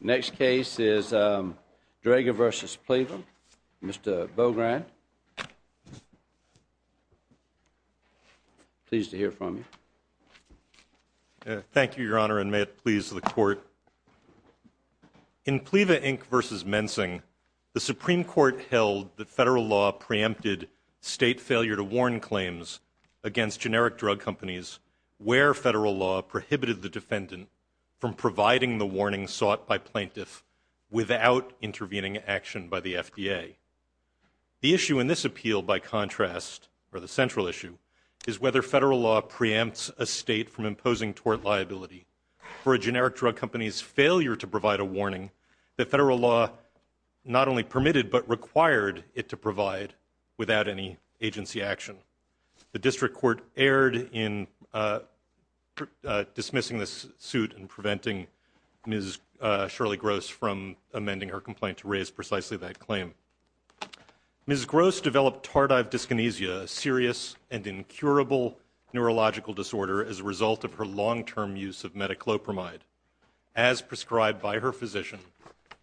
Next case is Drager v. PLIVA, Mr. Bogrand. Pleased to hear from you. Thank you, Your Honor, and may it please the Court. In PLIVA, Inc. v. Mensing, the Supreme Court held that federal law preempted state failure-to-warn claims against generic drug companies where federal law prohibited the defendant from providing the warning sought by plaintiff without intervening action by the FDA. The issue in this appeal, by contrast, or the central issue, is whether federal law preempts a state from imposing tort liability for a generic drug company's failure to provide a warning that federal law not only permitted but required it to provide without any agency action. The district court erred in dismissing this suit and preventing Ms. Shirley Gross from amending her complaint to raise precisely that claim. Ms. Gross developed tardive dyskinesia, a serious and incurable neurological disorder, as a result of her long-term use of metoclopramide, as prescribed by her physician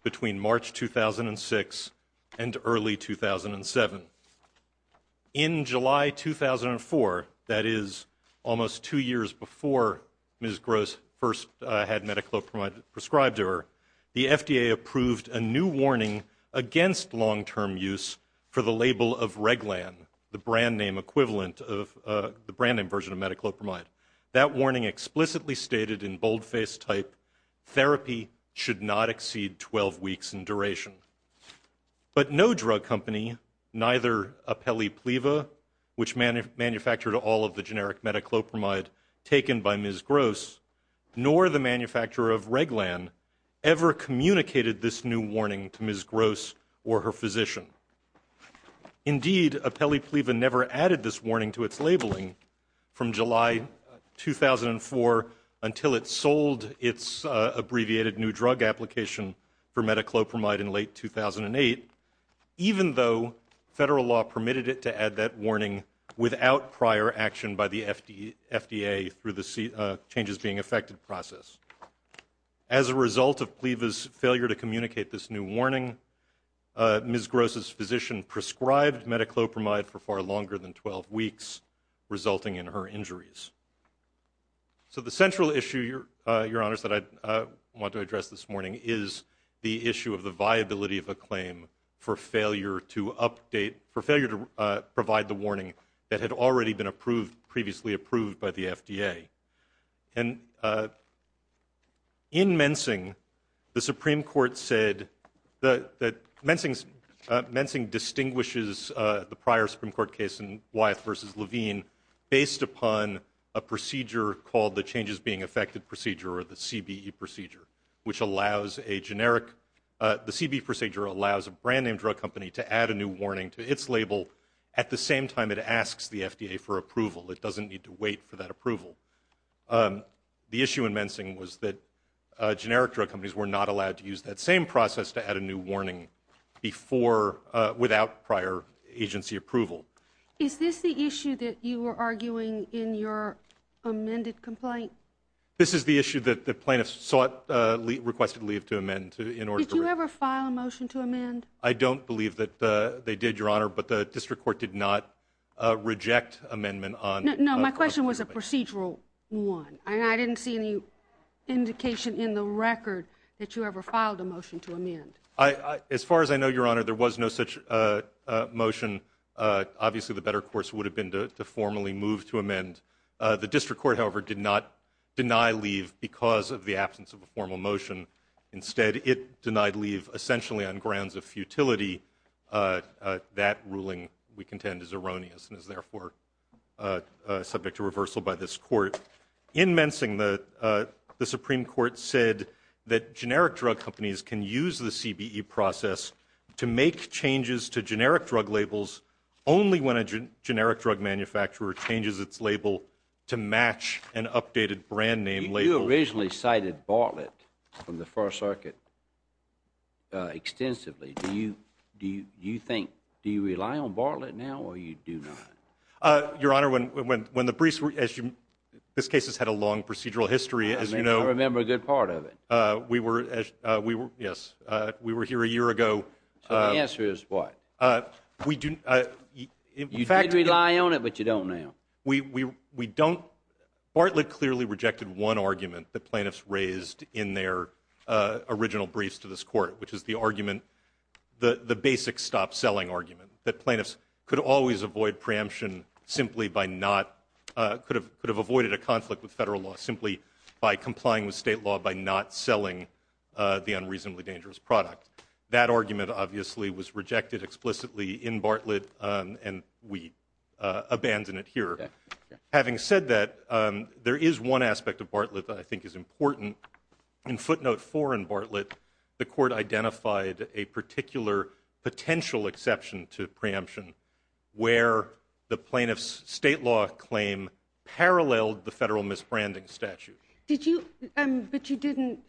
between March 2006 and early 2007. In July 2004, that is, almost two years before Ms. Gross first had metoclopramide prescribed to her, the FDA approved a new warning against long-term use for the label of Reglan, the brand name equivalent of the brand name version of metoclopramide. That warning explicitly stated in boldface type, therapy should not exceed 12 weeks in duration. But no drug company, neither Apellipleva, which manufactured all of the generic metoclopramide taken by Ms. Gross, nor the manufacturer of Reglan ever communicated this new warning to Ms. Gross or her physician. Indeed, Apellipleva never added this warning to its labeling from July 2004 until it sold its abbreviated new drug application for metoclopramide in late 2008, even though federal law permitted it to add that warning without prior action by the FDA through the changes-being-affected process. As a result of Pleva's failure to communicate this new warning, Ms. Gross's physician prescribed metoclopramide for far longer than 12 weeks, resulting in her injuries. So the central issue, Your Honors, that I want to address this morning is the issue of the viability of a claim for failure to provide the warning that had already been previously approved by the FDA. And in Mensing, the Supreme Court said that Mensing distinguishes the prior Supreme Court case in Wyeth v. Levine based upon a procedure called the changes-being-affected procedure, or the CBE procedure, which allows a generic – the CBE procedure allows a brand-name drug company to add a new warning to its label at the same time it asks the FDA for approval. It doesn't need to wait for that approval. The issue in Mensing was that generic drug companies were not allowed to use that same process to add a new warning before – without prior agency approval. Is this the issue that you were arguing in your amended complaint? This is the issue that the plaintiffs sought – requested leave to amend in order to – Did you ever file a motion to amend? I don't believe that they did, Your Honor, but the district court did not reject amendment on – No, my question was a procedural one. I didn't see any indication in the record that you ever filed a motion to amend. As far as I know, Your Honor, there was no such motion. Obviously, the better course would have been to formally move to amend. The district court, however, did not deny leave because of the absence of a formal motion. Instead, it denied leave essentially on grounds of futility. That ruling, we contend, is erroneous and is therefore subject to reversal by this court. In Mensing, the Supreme Court said that generic drug companies can use the CBE process to make changes to generic drug labels only when a generic drug manufacturer changes its label to match an updated brand name label. You originally cited Bartlett from the First Circuit extensively. Do you think – do you rely on Bartlett now or you do not? Your Honor, when the briefs – this case has had a long procedural history, as you know – I remember a good part of it. We were – yes, we were here a year ago. So the answer is what? We do – in fact – You did rely on it, but you don't now. We don't – Bartlett clearly rejected one argument that plaintiffs raised in their original briefs to this court, which is the argument – the basic stop-selling argument that plaintiffs could always avoid preemption simply by not – could have avoided a conflict with federal law simply by complying with state law by not selling the unreasonably dangerous product. That argument, obviously, was rejected explicitly in Bartlett and we abandon it here. Having said that, there is one aspect of Bartlett that I think is important. In footnote 4 in Bartlett, the court identified a particular potential exception to preemption where the plaintiff's state law claim paralleled the federal misbranding statute. Did you – but you didn't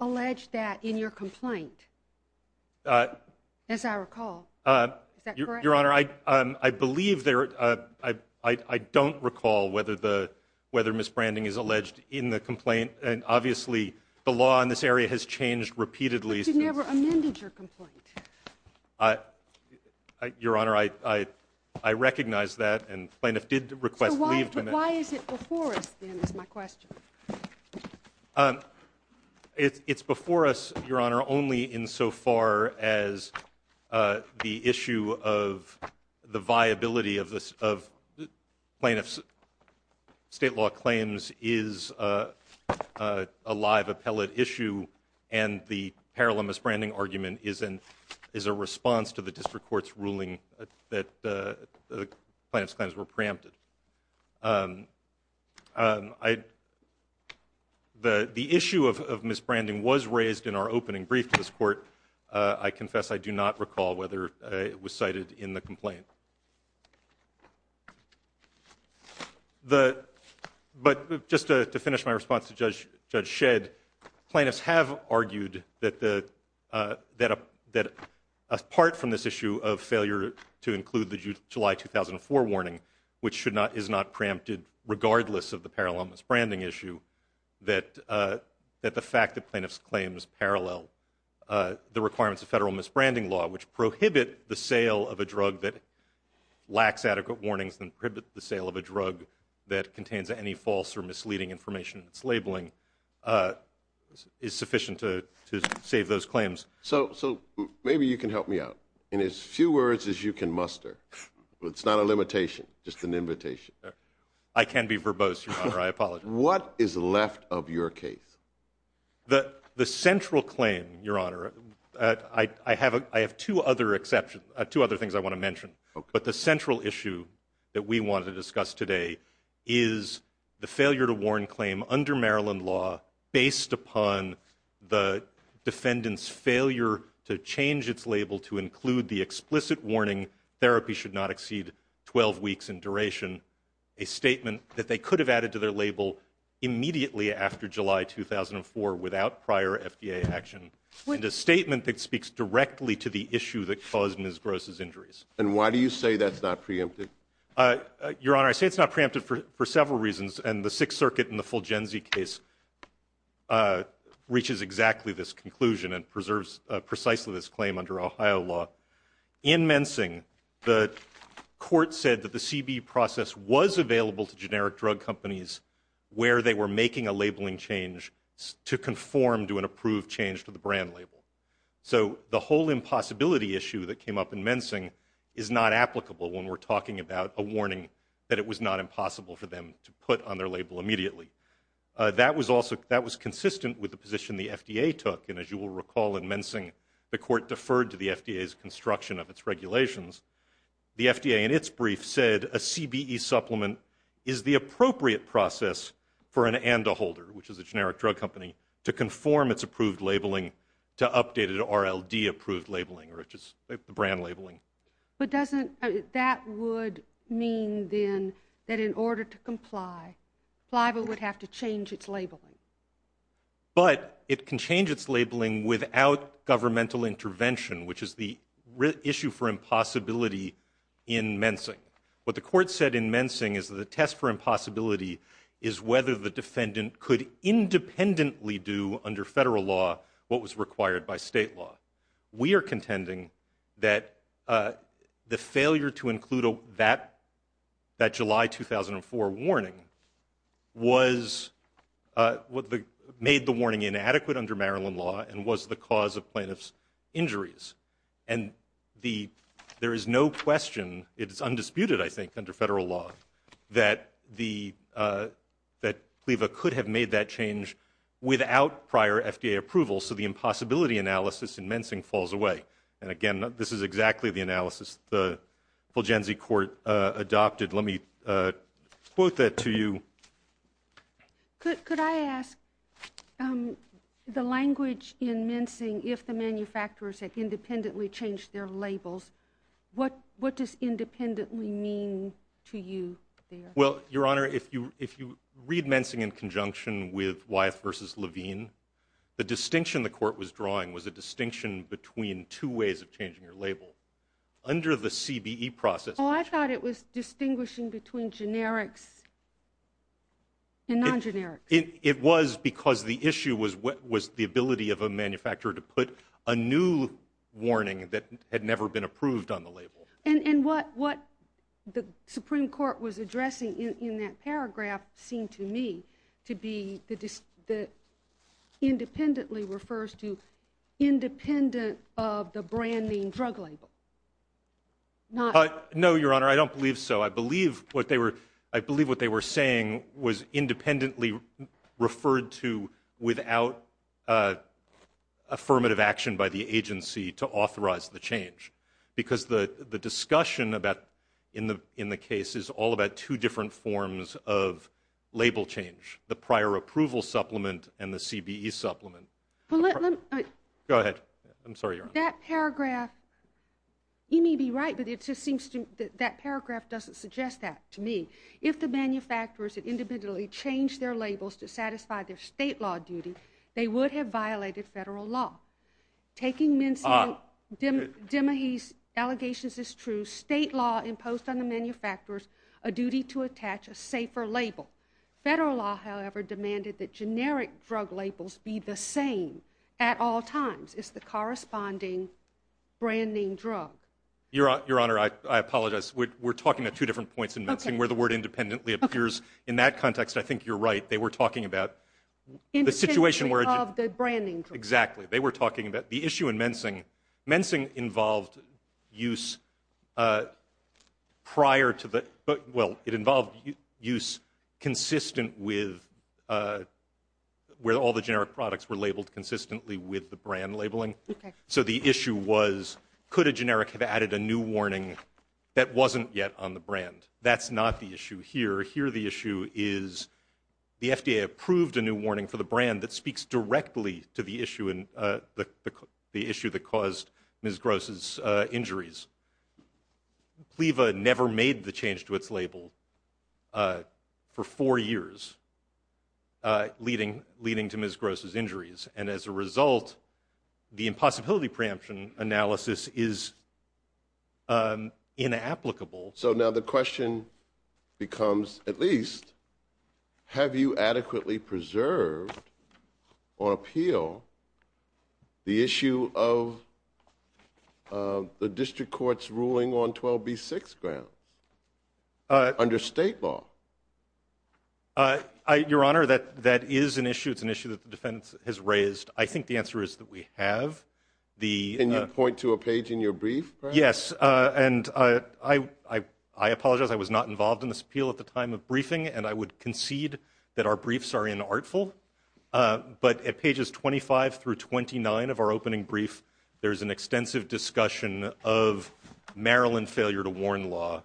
allege that in your complaint, as I recall. Is that correct? Your Honor, I believe there – I don't recall whether the – whether misbranding is alleged in the complaint, and obviously the law in this area has changed repeatedly since – But you never amended your complaint. Your Honor, I recognize that, and plaintiffs did request leave to amend it. But why is it before us, then, is my question. It's before us, Your Honor, only insofar as the issue of the viability of plaintiffs' state law claims is a live appellate issue and the parallel misbranding argument is a response to the district court's ruling that the plaintiff's claims were preempted. The issue of misbranding was raised in our opening brief to this court. I confess I do not recall whether it was cited in the complaint. But just to finish my response to Judge Shedd, plaintiffs have argued that apart from this issue of failure to include the July 2004 warning, which is not preempted regardless of the parallel misbranding issue, that the fact that plaintiffs' claims parallel the requirements of federal misbranding law, which prohibit the sale of a drug that lacks adequate warnings and prohibit the sale of a drug that contains any false or misleading information in its labeling, is sufficient to save those claims. So maybe you can help me out. In as few words as you can muster. It's not a limitation, just an invitation. I can be verbose, Your Honor. I apologize. What is left of your case? The central claim, Your Honor, I have two other things I want to mention. But the central issue that we want to discuss today is the failure to warn claim under Maryland law based upon the defendant's failure to change its label to include the explicit warning therapy should not exceed 12 weeks in duration, a statement that they could have added to their label immediately after July 2004 without prior FDA action, and a statement that speaks directly to the issue that caused Ms. Gross' injuries. And why do you say that's not preempted? Your Honor, I say it's not preempted for several reasons. And the Sixth Circuit in the Fulgenzy case reaches exactly this conclusion and preserves precisely this claim under Ohio law. In Mensing, the court said that the CB process was available to generic drug companies where they were making a labeling change to conform to an approved change to the brand label. So the whole impossibility issue that came up in Mensing is not applicable when we're talking about a warning that it was not impossible for them to put on their label immediately. That was consistent with the position the FDA took. And as you will recall, in Mensing, the court deferred to the FDA's construction of its regulations. The FDA in its brief said a CBE supplement is the appropriate process for an ANDA holder, which is a generic drug company, to conform its approved labeling to updated RLD approved labeling, which is the brand labeling. But doesn't that would mean, then, that in order to comply, FIBA would have to change its labeling? But it can change its labeling without governmental intervention, which is the issue for impossibility in Mensing. What the court said in Mensing is that the test for impossibility is whether the defendant could independently do under federal law what was required by state law. We are contending that the failure to include that July 2004 warning made the warning inadequate under Maryland law and was the cause of plaintiff's injuries. And there is no question, it is undisputed, I think, under federal law, that FIBA could have made that change without prior FDA approval. So the impossibility analysis in Mensing falls away. And, again, this is exactly the analysis the Fulgenzi court adopted. Let me quote that to you. Could I ask, the language in Mensing, if the manufacturers had independently changed their labels, what does independently mean to you there? Well, Your Honor, if you read Mensing in conjunction with Wyeth v. Levine, the distinction the court was drawing was a distinction between two ways of changing your label. Under the CBE process... Oh, I thought it was distinguishing between generics and non-generics. It was because the issue was the ability of a manufacturer to put a new warning that had never been approved on the label. And what the Supreme Court was addressing in that paragraph seemed to me to be that independently refers to independent of the brand name drug label. No, Your Honor, I don't believe so. I believe what they were saying was independently referred to without affirmative action by the agency to authorize the change because the discussion in the case is all about two different forms of label change, the prior approval supplement and the CBE supplement. Go ahead. I'm sorry, Your Honor. That paragraph, you may be right, but that paragraph doesn't suggest that to me. If the manufacturers had independently changed their labels to satisfy their state law duty, they would have violated federal law. Taking Minson-Dimahy's allegations as true, state law imposed on the manufacturers a duty to attach a safer label. Federal law, however, demanded that generic drug labels be the same at all times. It's the corresponding brand name drug. Your Honor, I apologize. We're talking about two different points in Minson where the word independently appears. In that context, I think you're right. They were talking about the situation where... Independently of the branding drug. Exactly. They were talking about the issue in Mensing. Mensing involved use prior to the... Well, it involved use consistent with... where all the generic products were labeled consistently with the brand labeling. So the issue was, could a generic have added a new warning that wasn't yet on the brand? That's not the issue here. Here the issue is the FDA approved a new warning for the brand that speaks directly to the issue that caused Ms. Gross' injuries. Cleva never made the change to its label for four years, leading to Ms. Gross' injuries. And as a result, the impossibility preemption analysis is inapplicable. So now the question becomes, at least, have you adequately preserved or appeal the issue of the district court's ruling on 12B6 grounds under state law? Your Honor, that is an issue. It's an issue that the defense has raised. I think the answer is that we have. Can you point to a page in your brief? Yes, and I apologize. I was not involved in this appeal at the time of briefing, and I would concede that our briefs are inartful. But at pages 25 through 29 of our opening brief, there is an extensive discussion of Maryland failure to warn law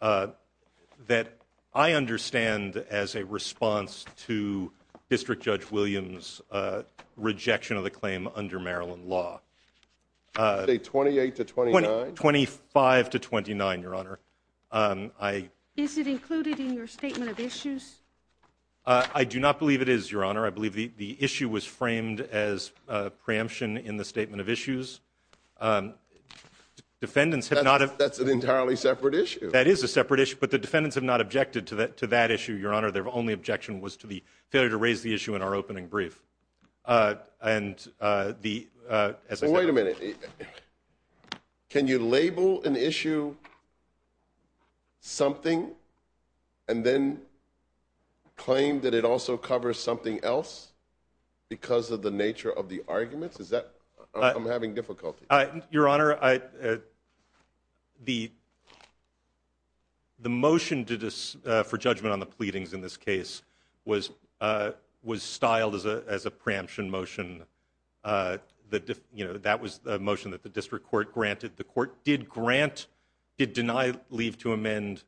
that I understand as a response to District Judge Williams' rejection of the claim under Maryland law. You say 28 to 29? 25 to 29, Your Honor. Is it included in your statement of issues? I do not believe it is, Your Honor. I believe the issue was framed as preemption in the statement of issues. That's an entirely separate issue. That is a separate issue, but the defendants have not objected to that issue, Your Honor. Their only objection was to the failure to raise the issue in our opening brief. Wait a minute. Can you label an issue something and then claim that it also covers something else because of the nature of the argument? I'm having difficulty. Your Honor, the motion for judgment on the pleadings in this case was styled as a preemption motion. That was a motion that the district court granted. The court did deny leave to amend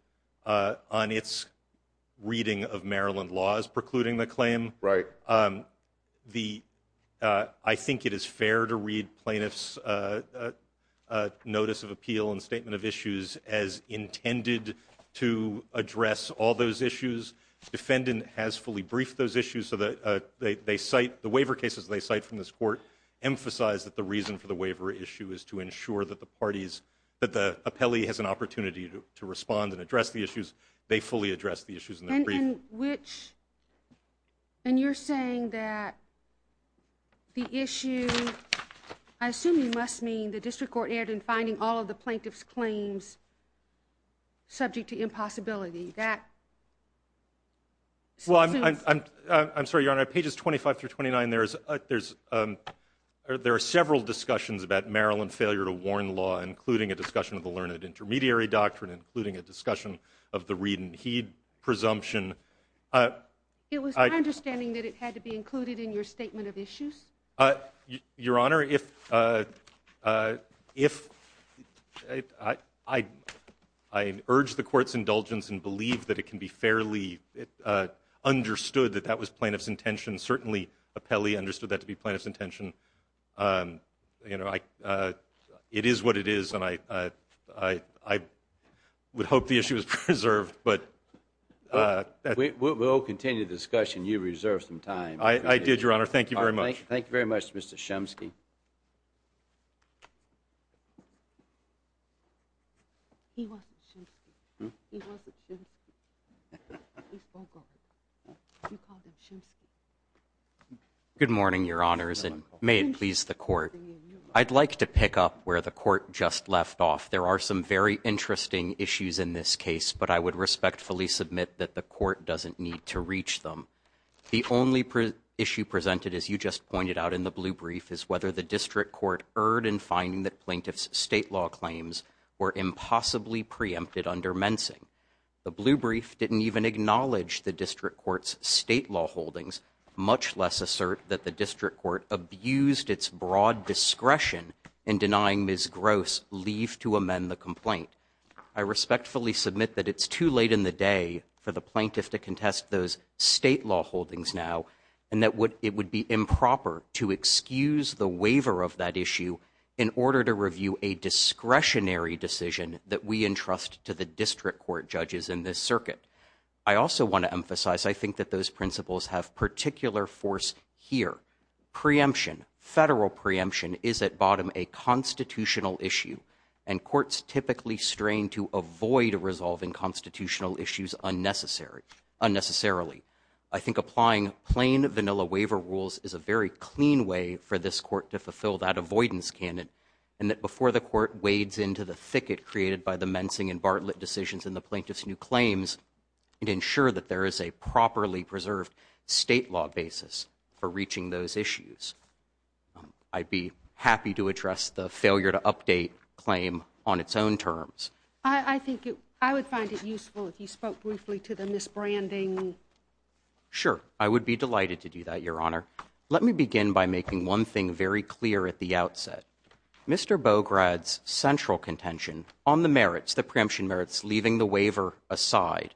on its reading of Maryland laws precluding the claim. Right. I think it is fair to read plaintiffs' notice of appeal and statement of issues as intended to address all those issues. The defendant has fully briefed those issues. The waiver cases they cite from this court emphasize that the reason for the waiver issue is to ensure that the parties, that the appellee has an opportunity to respond and address the issues. They fully addressed the issues in their brief. And you're saying that the issue, I assume you must mean the district court erred in finding all of the plaintiffs' claims subject to impossibility. I'm sorry, Your Honor. Pages 25 through 29, there are several discussions about Maryland failure to warn law, including a discussion of the learned intermediary doctrine, including a discussion of the read and heed presumption. It was my understanding that it had to be included in your statement of issues. Your Honor, I urge the court's indulgence and believe that it can be fairly understood that that was plaintiff's intention. Certainly, appellee understood that to be plaintiff's intention. It is what it is, and I would hope the issue is preserved. We'll continue the discussion. You reserved some time. I did, Your Honor. Thank you very much. Thank you very much, Mr. Shumsky. Good morning, Your Honors. And may it please the court, I'd like to pick up where the court just left off. There are some very interesting issues in this case, but I would respectfully submit that the court doesn't need to reach them. The only issue presented, as you just pointed out in the blue brief, is whether the district court erred in finding that plaintiff's state law claims were impossibly preempted under mensing. The blue brief didn't even acknowledge the district court's state law holdings, much less assert that the district court abused its broad discretion in denying Ms. Gross leave to amend the complaint. I respectfully submit that it's too late in the day for the plaintiff to contest those state law holdings now, and that it would be improper to excuse the waiver of that issue in order to review a discretionary decision that we entrust to the district court judges in this circuit. I also want to emphasize, I think that those principles have particular force here. Preemption, federal preemption, is at bottom a constitutional issue, and courts typically strain to avoid resolving constitutional issues unnecessarily. I think applying plain vanilla waiver rules is a very clean way for this court to fulfill that avoidance candidate, and that before the court wades into the thicket created by the mensing and Bartlett decisions in the plaintiff's new claims, it ensure that there is a properly preserved state law basis for reaching those issues. I'd be happy to address the failure to update claim on its own terms. I think I would find it useful if you spoke briefly to the misbranding. Sure, I would be delighted to do that, Your Honor. Let me begin by making one thing very clear at the outset. Mr. Bograd's central contention on the merits, the preemption merits, leaving the waiver aside,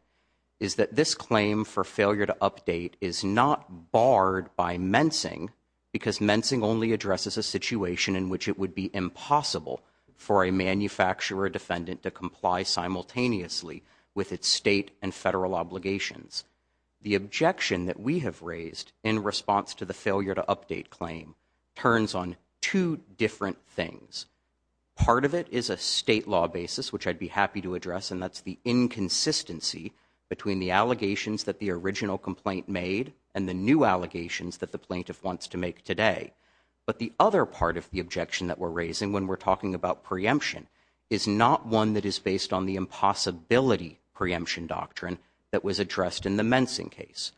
is that this claim for failure to update is not barred by mensing because mensing only addresses a situation in which it would be impossible for a manufacturer defendant to comply simultaneously with its state and federal obligations. The objection that we have raised in response to the failure to update claim turns on two different things. Part of it is a state law basis, which I'd be happy to address, and that's the inconsistency between the allegations that the original complaint made and the new allegations that the plaintiff wants to make today. But the other part of the objection that we're raising when we're talking about preemption is not one that is based on the impossibility preemption doctrine that was addressed in the mensing case.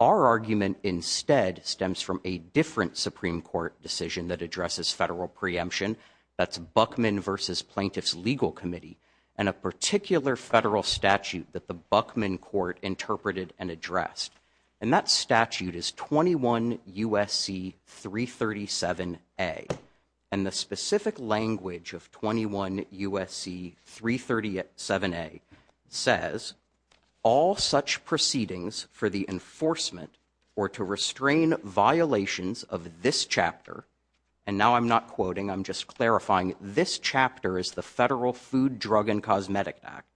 Our argument instead stems from a different Supreme Court decision that addresses federal preemption, that's Buckman v. Plaintiff's Legal Committee, and a particular federal statute that the Buckman Court interpreted and addressed. And that statute is 21 U.S.C. 337A. And the specific language of 21 U.S.C. 337A says, all such proceedings for the enforcement or to restrain violations of this chapter, and now I'm not quoting, I'm just clarifying, this chapter is the Federal Food, Drug, and Cosmetic Act,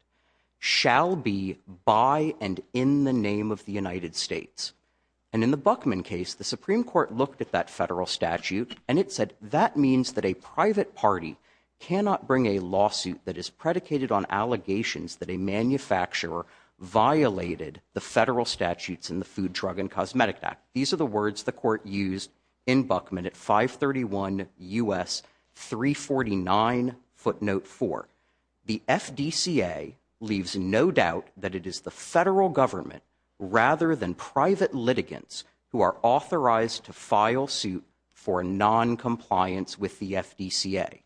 shall be by and in the name of the United States. And in the Buckman case, the Supreme Court looked at that federal statute and it said, that means that a private party cannot bring a lawsuit that is predicated on allegations that a manufacturer violated the federal statutes in the Food, Drug, and Cosmetic Act. These are the words the court used in Buckman at 531 U.S. 349 footnote 4. The FDCA leaves no doubt that it is the federal government rather than private litigants who are authorized to file suit for noncompliance with the FDCA.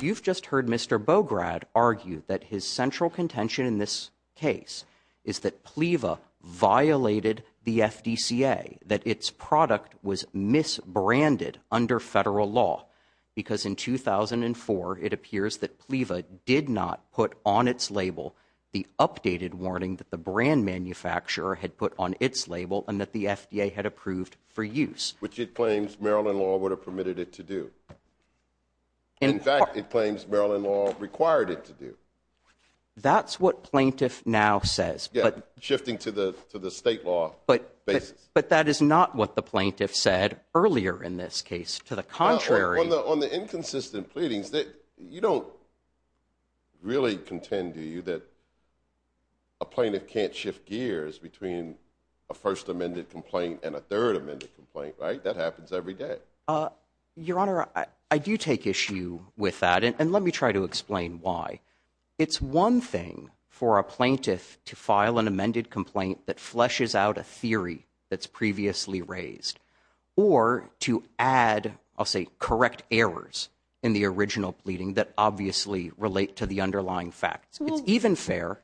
You've just heard Mr. Bograd argue that his central contention in this case is that PLEVA violated the FDCA, that its product was misbranded under federal law, because in 2004 it appears that PLEVA did not put on its label the updated warning that the brand manufacturer had put on its label and that the FDA had approved for use. Which it claims Maryland law would have permitted it to do. In fact, it claims Maryland law required it to do. That's what plaintiff now says. Yeah, shifting to the state law basis. But that is not what the plaintiff said earlier in this case. To the contrary. On the inconsistent pleadings, you don't really contend, do you, that a plaintiff can't shift gears between a first amended complaint and a third amended complaint, right? That happens every day. Your Honor, I do take issue with that, and let me try to explain why. It's one thing for a plaintiff to file an amended complaint that fleshes out a theory that's previously raised, or to add, I'll say, correct errors in the original pleading that obviously relate to the underlying facts. It's even fair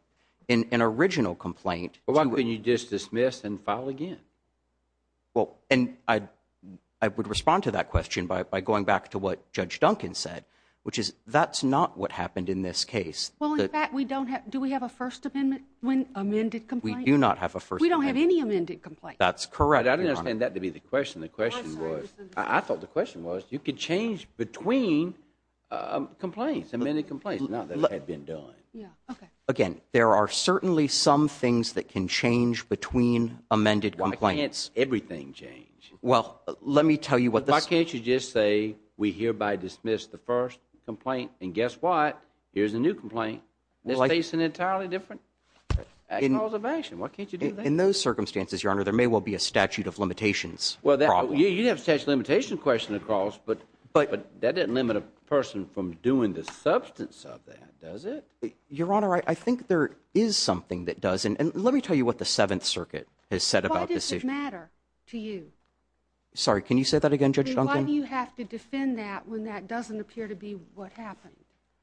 in an original complaint. Why can't you just dismiss and file again? Well, and I would respond to that question by going back to what Judge Duncan said, which is that's not what happened in this case. Well, in fact, do we have a first amendment when amended complaint? We do not have a first amendment. We don't have any amended complaint. That's correct, Your Honor. I didn't understand that to be the question. The question was, I thought the question was, you could change between complaints, amended complaints. Not that it had been done. Again, there are certainly some things that can change between amended complaints. Why can't everything change? Well, let me tell you what the— Why can't you just say, we hereby dismiss the first complaint, and guess what? Here's a new complaint. It's facing an entirely different cause of action. Why can't you do that? In those circumstances, Your Honor, there may well be a statute of limitations problem. You have a statute of limitations question across, but that doesn't limit a person from doing the substance of that, does it? Your Honor, I think there is something that does, and let me tell you what the Seventh Circuit has said about this. Why does it matter to you? Sorry, can you say that again, Judge Duncan? Why do you have to defend that when that doesn't appear to be what happened?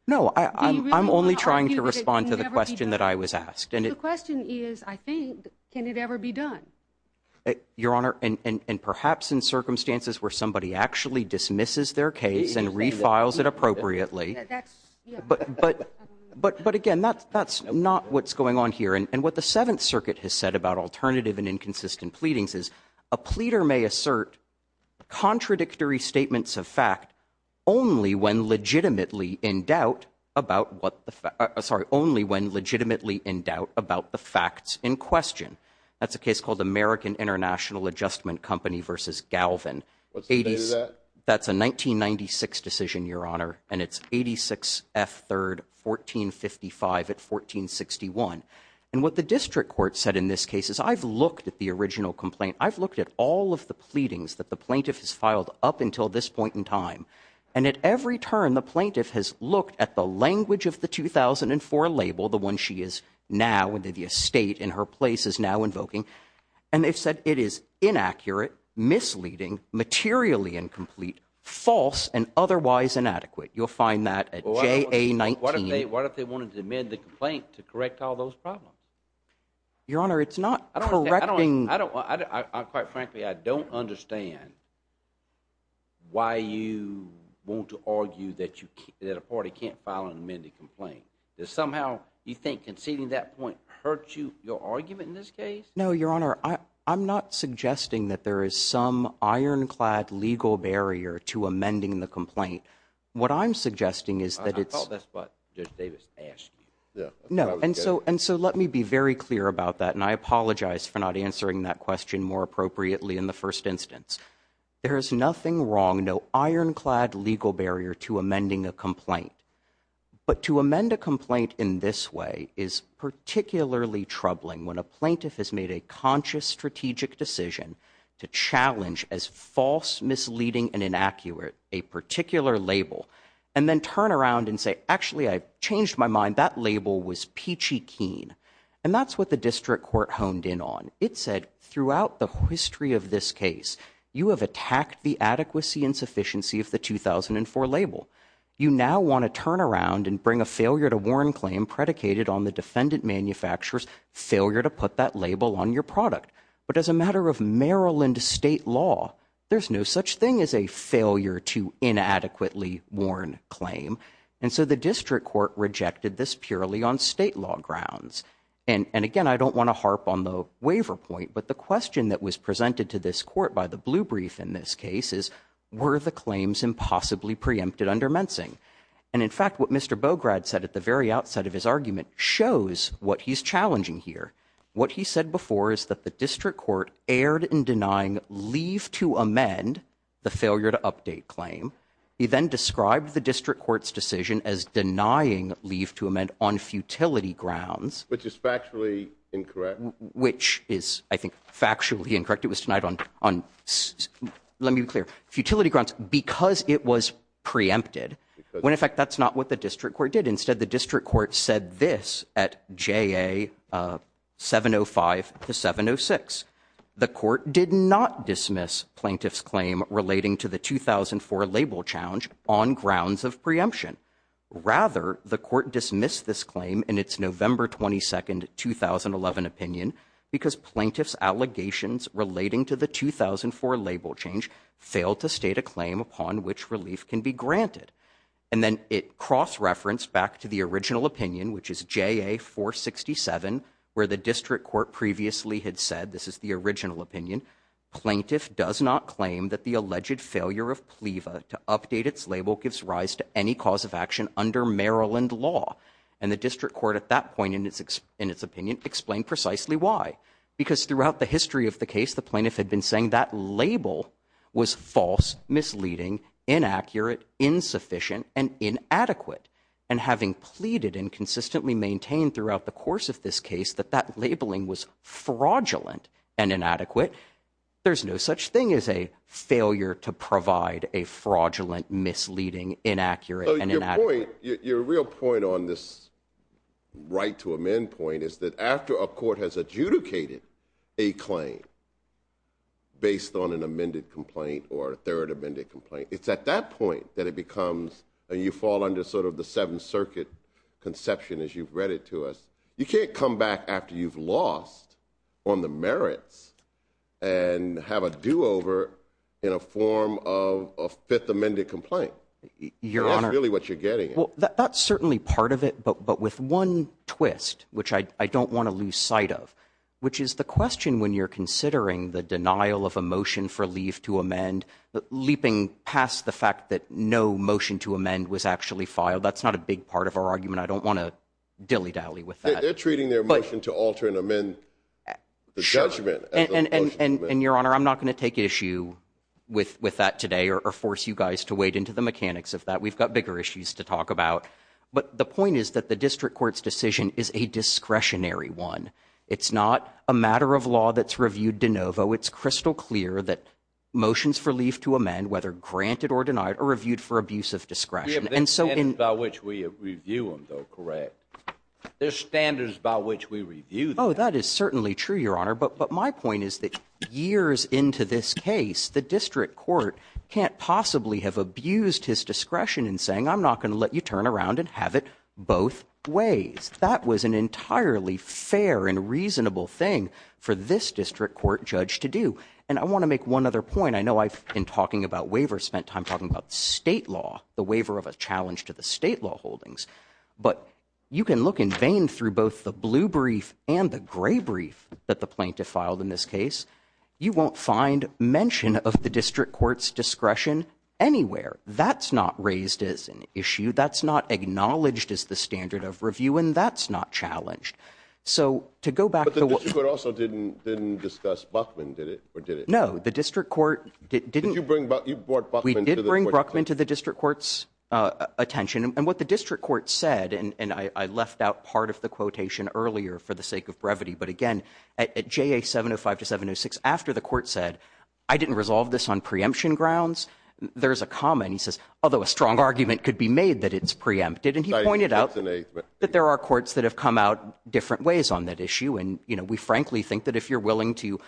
No, I'm only trying to respond to the question that I was asked. The question is, I think, can it ever be done? Your Honor, and perhaps in circumstances where somebody actually dismisses their case and refiles it appropriately. But, again, that's not what's going on here. And what the Seventh Circuit has said about alternative and inconsistent pleadings is, a pleader may assert contradictory statements of fact only when legitimately in doubt about the facts in question. That's a case called American International Adjustment Company v. Galvin. What's the date of that? That's a 1996 decision, Your Honor, and it's 86 F. 3rd, 1455 at 1461. And what the district court said in this case is, I've looked at the original complaint. I've looked at all of the pleadings that the plaintiff has filed up until this point in time. And at every turn, the plaintiff has looked at the language of the 2004 label, the one she is now, the estate in her place is now invoking. And they've said it is inaccurate, misleading, materially incomplete, false, and otherwise inadequate. You'll find that at JA 19. What if they wanted to amend the complaint to correct all those problems? Your Honor, it's not correcting. Quite frankly, I don't understand why you want to argue that a party can't file an amended complaint. Does somehow you think conceding that point hurt your argument in this case? No, Your Honor. I'm not suggesting that there is some ironclad legal barrier to amending the complaint. What I'm suggesting is that it's— I thought that's what Judge Davis asked you. No, and so let me be very clear about that, and I apologize for not answering that question more appropriately in the first instance. There is nothing wrong, no ironclad legal barrier to amending a complaint. But to amend a complaint in this way is particularly troubling when a plaintiff has made a conscious strategic decision to challenge as false, misleading, and inaccurate a particular label and then turn around and say, actually, I've changed my mind. That label was peachy keen. And that's what the district court honed in on. It said throughout the history of this case, you have attacked the adequacy and sufficiency of the 2004 label. You now want to turn around and bring a failure-to-warn claim predicated on the defendant manufacturer's failure to put that label on your product. But as a matter of Maryland state law, there's no such thing as a failure-to-inadequately-warn claim. And so the district court rejected this purely on state law grounds. And, again, I don't want to harp on the waiver point, but the question that was presented to this court by the blue brief in this case is, were the claims impossibly preempted under Mensing? And, in fact, what Mr. Bograd said at the very outset of his argument shows what he's challenging here. What he said before is that the district court erred in denying leave-to-amend the failure-to-update claim. He then described the district court's decision as denying leave-to-amend on futility grounds. Which is factually incorrect. Which is, I think, factually incorrect. It was denied on, let me be clear, futility grounds because it was preempted. When, in fact, that's not what the district court did. Instead, the district court said this at JA 705 to 706. The court did not dismiss plaintiff's claim relating to the 2004 label challenge on grounds of preemption. Rather, the court dismissed this claim in its November 22, 2011 opinion because plaintiff's allegations relating to the 2004 label change failed to state a claim upon which relief can be granted. And then it cross-referenced back to the original opinion, which is JA 467, where the district court previously had said, this is the original opinion, plaintiff does not claim that the alleged failure of PLEVA to update its label gives rise to any cause of action under Maryland law. And the district court at that point in its opinion explained precisely why. Because throughout the history of the case, the plaintiff had been saying that label was false, misleading, inaccurate, insufficient, and inadequate. And having pleaded and consistently maintained throughout the course of this case that that labeling was fraudulent and inadequate, there's no such thing as a failure Your real point on this right to amend point is that after a court has adjudicated a claim based on an amended complaint or a third amended complaint, it's at that point that it becomes and you fall under sort of the Seventh Circuit conception as you've read it to us. You can't come back after you've lost on the merits and have a do-over in a form of a fifth amended complaint. That's really what you're getting at. Well, that's certainly part of it. But with one twist, which I don't want to lose sight of, which is the question when you're considering the denial of a motion for leave to amend, leaping past the fact that no motion to amend was actually filed, that's not a big part of our argument. I don't want to dilly-dally with that. They're treating their motion to alter and amend the judgment as a motion to amend. And, Your Honor, I'm not going to take issue with that today or force you guys to wade into the mechanics of that. We've got bigger issues to talk about. But the point is that the district court's decision is a discretionary one. It's not a matter of law that's reviewed de novo. It's crystal clear that motions for leave to amend, whether granted or denied, are reviewed for abuse of discretion. We have the standards by which we review them, though, correct? There's standards by which we review them. Oh, that is certainly true, Your Honor. But my point is that years into this case, the district court can't possibly have abused his discretion in saying, I'm not going to let you turn around and have it both ways. That was an entirely fair and reasonable thing for this district court judge to do. And I want to make one other point. I know I've been talking about waivers, spent time talking about state law, the waiver of a challenge to the state law holdings. But you can look in vain through both the blue brief and the gray brief that the plaintiff filed in this case. You won't find mention of the district court's discretion anywhere. That's not raised as an issue. That's not acknowledged as the standard of review. And that's not challenged. But the district court also didn't discuss Buckman, did it, or did it? No, the district court didn't. You brought Buckman to the court. We did bring Buckman to the district court's attention. And what the district court said, and I left out part of the quotation earlier for the sake of brevity, but again, at JA 705 to 706, after the court said, I didn't resolve this on preemption grounds, there's a comment. He says, although a strong argument could be made that it's preempted. And he pointed out that there are courts that have come out different ways on that issue. And we frankly think that if you're willing to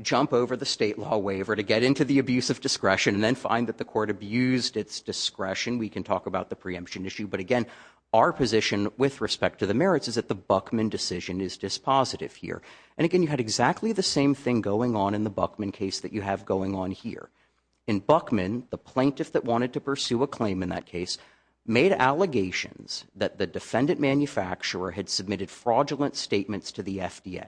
jump over the state law waiver to get into the abuse of discretion and then find that the court abused its discretion, we can talk about the preemption issue. But again, our position with respect to the merits is that the Buckman decision is dispositive here. And again, you had exactly the same thing going on in the Buckman case that you have going on here. In Buckman, the plaintiff that wanted to pursue a claim in that case made allegations that the defendant manufacturer had submitted fraudulent statements to the FDA.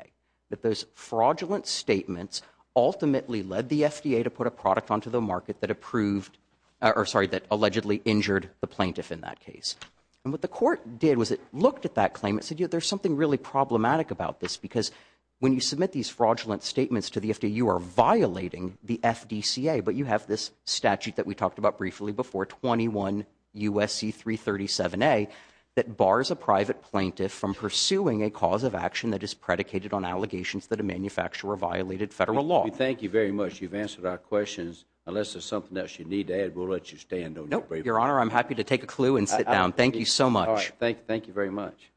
That those fraudulent statements ultimately led the FDA to put a product onto the market that allegedly injured the plaintiff in that case. And what the court did was it looked at that claim and said, there's something really problematic about this. Because when you submit these fraudulent statements to the FDA, you are violating the FDCA. But you have this statute that we talked about briefly before, 21 U.S.C. 337A, that bars a private plaintiff from pursuing a cause of action that is predicated on allegations that a manufacturer violated federal law. Thank you very much. You've answered our questions. Unless there's something else you need to add, we'll let you stand. No, Your Honor, I'm happy to take a clue and sit down. Thank you so much. Thank you very much.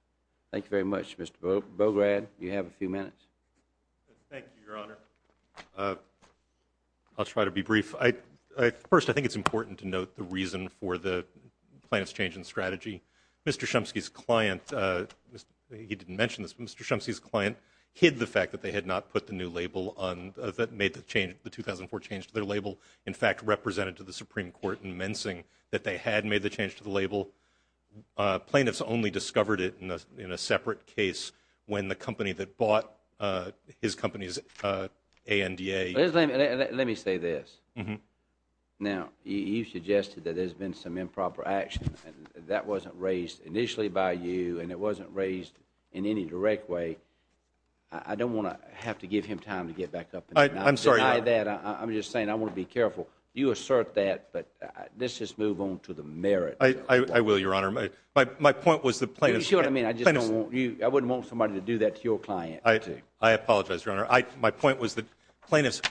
Thank you very much, Mr. Bograd. You have a few minutes. Thank you, Your Honor. I'll try to be brief. First, I think it's important to note the reason for the plaintiff's change in strategy. Mr. Shumsky's client, he didn't mention this, but Mr. Shumsky's client hid the fact that they had not put the new label that made the 2004 change to their label, in fact represented to the Supreme Court in Mensing that they had made the change to the label. Plaintiffs only discovered it in a separate case when the company that bought his company's ANDA Let me say this. Now, you suggested that there's been some improper action. That wasn't raised initially by you, and it wasn't raised in any direct way. I don't want to have to give him time to get back up and deny that. I'm sorry, Your Honor. I'm just saying I want to be careful. You assert that, but let's just move on to the merit. I will, Your Honor. You see what I mean? I wouldn't want somebody to do that to your client. I apologize, Your Honor. My point was that plaintiffs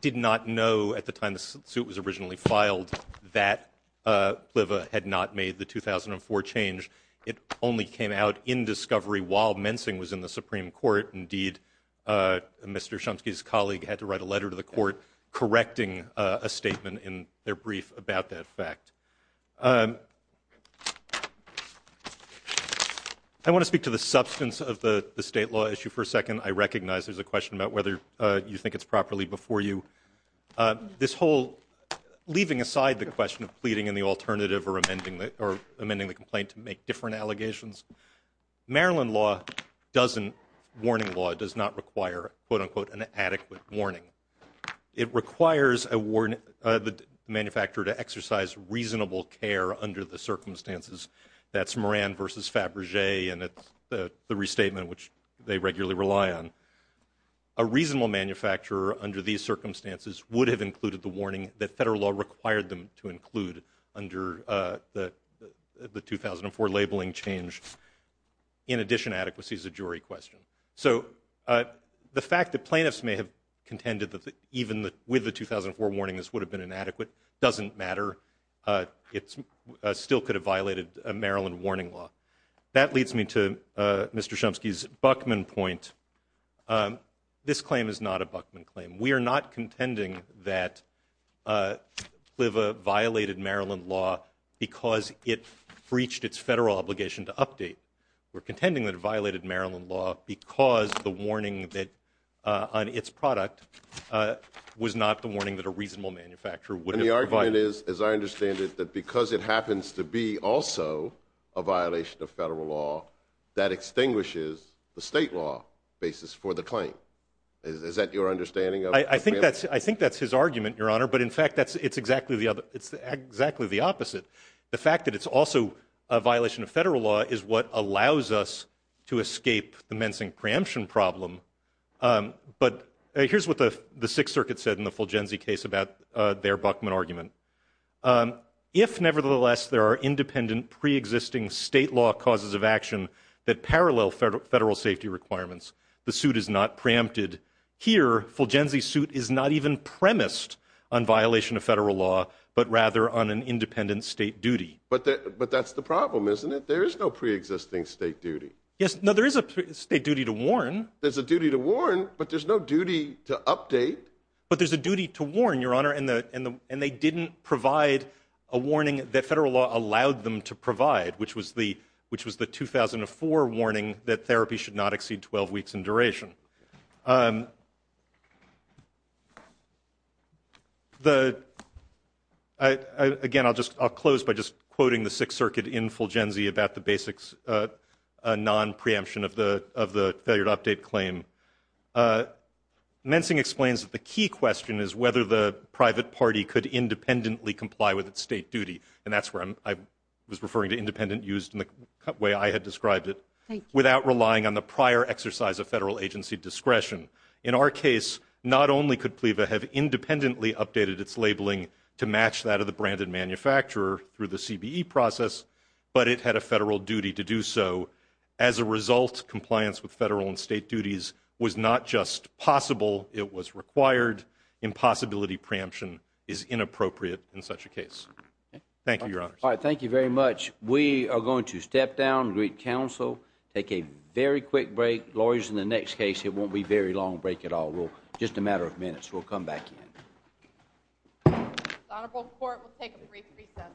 did not know at the time the suit was originally filed that PLVA had not made the 2004 change. It only came out in discovery while Mensing was in the Supreme Court. Indeed, Mr. Shumsky's colleague had to write a letter to the court correcting a statement in their brief about that fact. I want to speak to the substance of the state law issue for a second. I recognize there's a question about whether you think it's properly before you. Leaving aside the question of pleading in the alternative or amending the complaint to make different allegations, Maryland law doesn't, warning law, does not require, quote, unquote, an adequate warning. It requires the manufacturer to exercise reasonable care under the circumstances. That's Moran v. Faberge, and it's the restatement which they regularly rely on. A reasonable manufacturer under these circumstances would have included the warning that federal law required them to include under the 2004 labeling change. In addition, adequacy is a jury question. So the fact that plaintiffs may have contended that even with the 2004 warning this would have been inadequate doesn't matter. It still could have violated Maryland warning law. That leads me to Mr. Shumsky's Buckman point. This claim is not a Buckman claim. We are not contending that CLVA violated Maryland law because it breached its federal obligation to update. We're contending that it violated Maryland law because the warning on its product was not the warning that a reasonable manufacturer would have provided. The argument is, as I understand it, that because it happens to be also a violation of federal law, that extinguishes the state law basis for the claim. Is that your understanding? I think that's his argument, Your Honor. But, in fact, it's exactly the opposite. The fact that it's also a violation of federal law is what allows us to escape the mensing preemption problem. But here's what the Sixth Circuit said in the Fulgenzi case about their Buckman argument. If, nevertheless, there are independent preexisting state law causes of action that parallel federal safety requirements, the suit is not preempted. Here, Fulgenzi's suit is not even premised on violation of federal law, but rather on an independent state duty. But that's the problem, isn't it? There is no preexisting state duty. There's a duty to warn, but there's no duty to update. But there's a duty to warn, Your Honor, and they didn't provide a warning that federal law allowed them to provide, which was the 2004 warning that therapy should not exceed 12 weeks in duration. Thank you. Again, I'll close by just quoting the Sixth Circuit in Fulgenzi about the basics, a non-preemption of the failure to update claim. Mensing explains that the key question is whether the private party could independently comply with its state duty, and that's where I was referring to independent used in the way I had described it, without relying on the prior exercise of federal agency discretion. In our case, not only could PLEVA have independently updated its labeling to match that of the branded manufacturer through the CBE process, but it had a federal duty to do so. As a result, compliance with federal and state duties was not just possible, it was required. Impossibility preemption is inappropriate in such a case. Thank you, Your Honors. All right, thank you very much. We are going to step down, greet counsel, take a very quick break. Lawyers, in the next case, it won't be a very long break at all. Just a matter of minutes. We'll come back in. The Honorable Court will take a brief recess.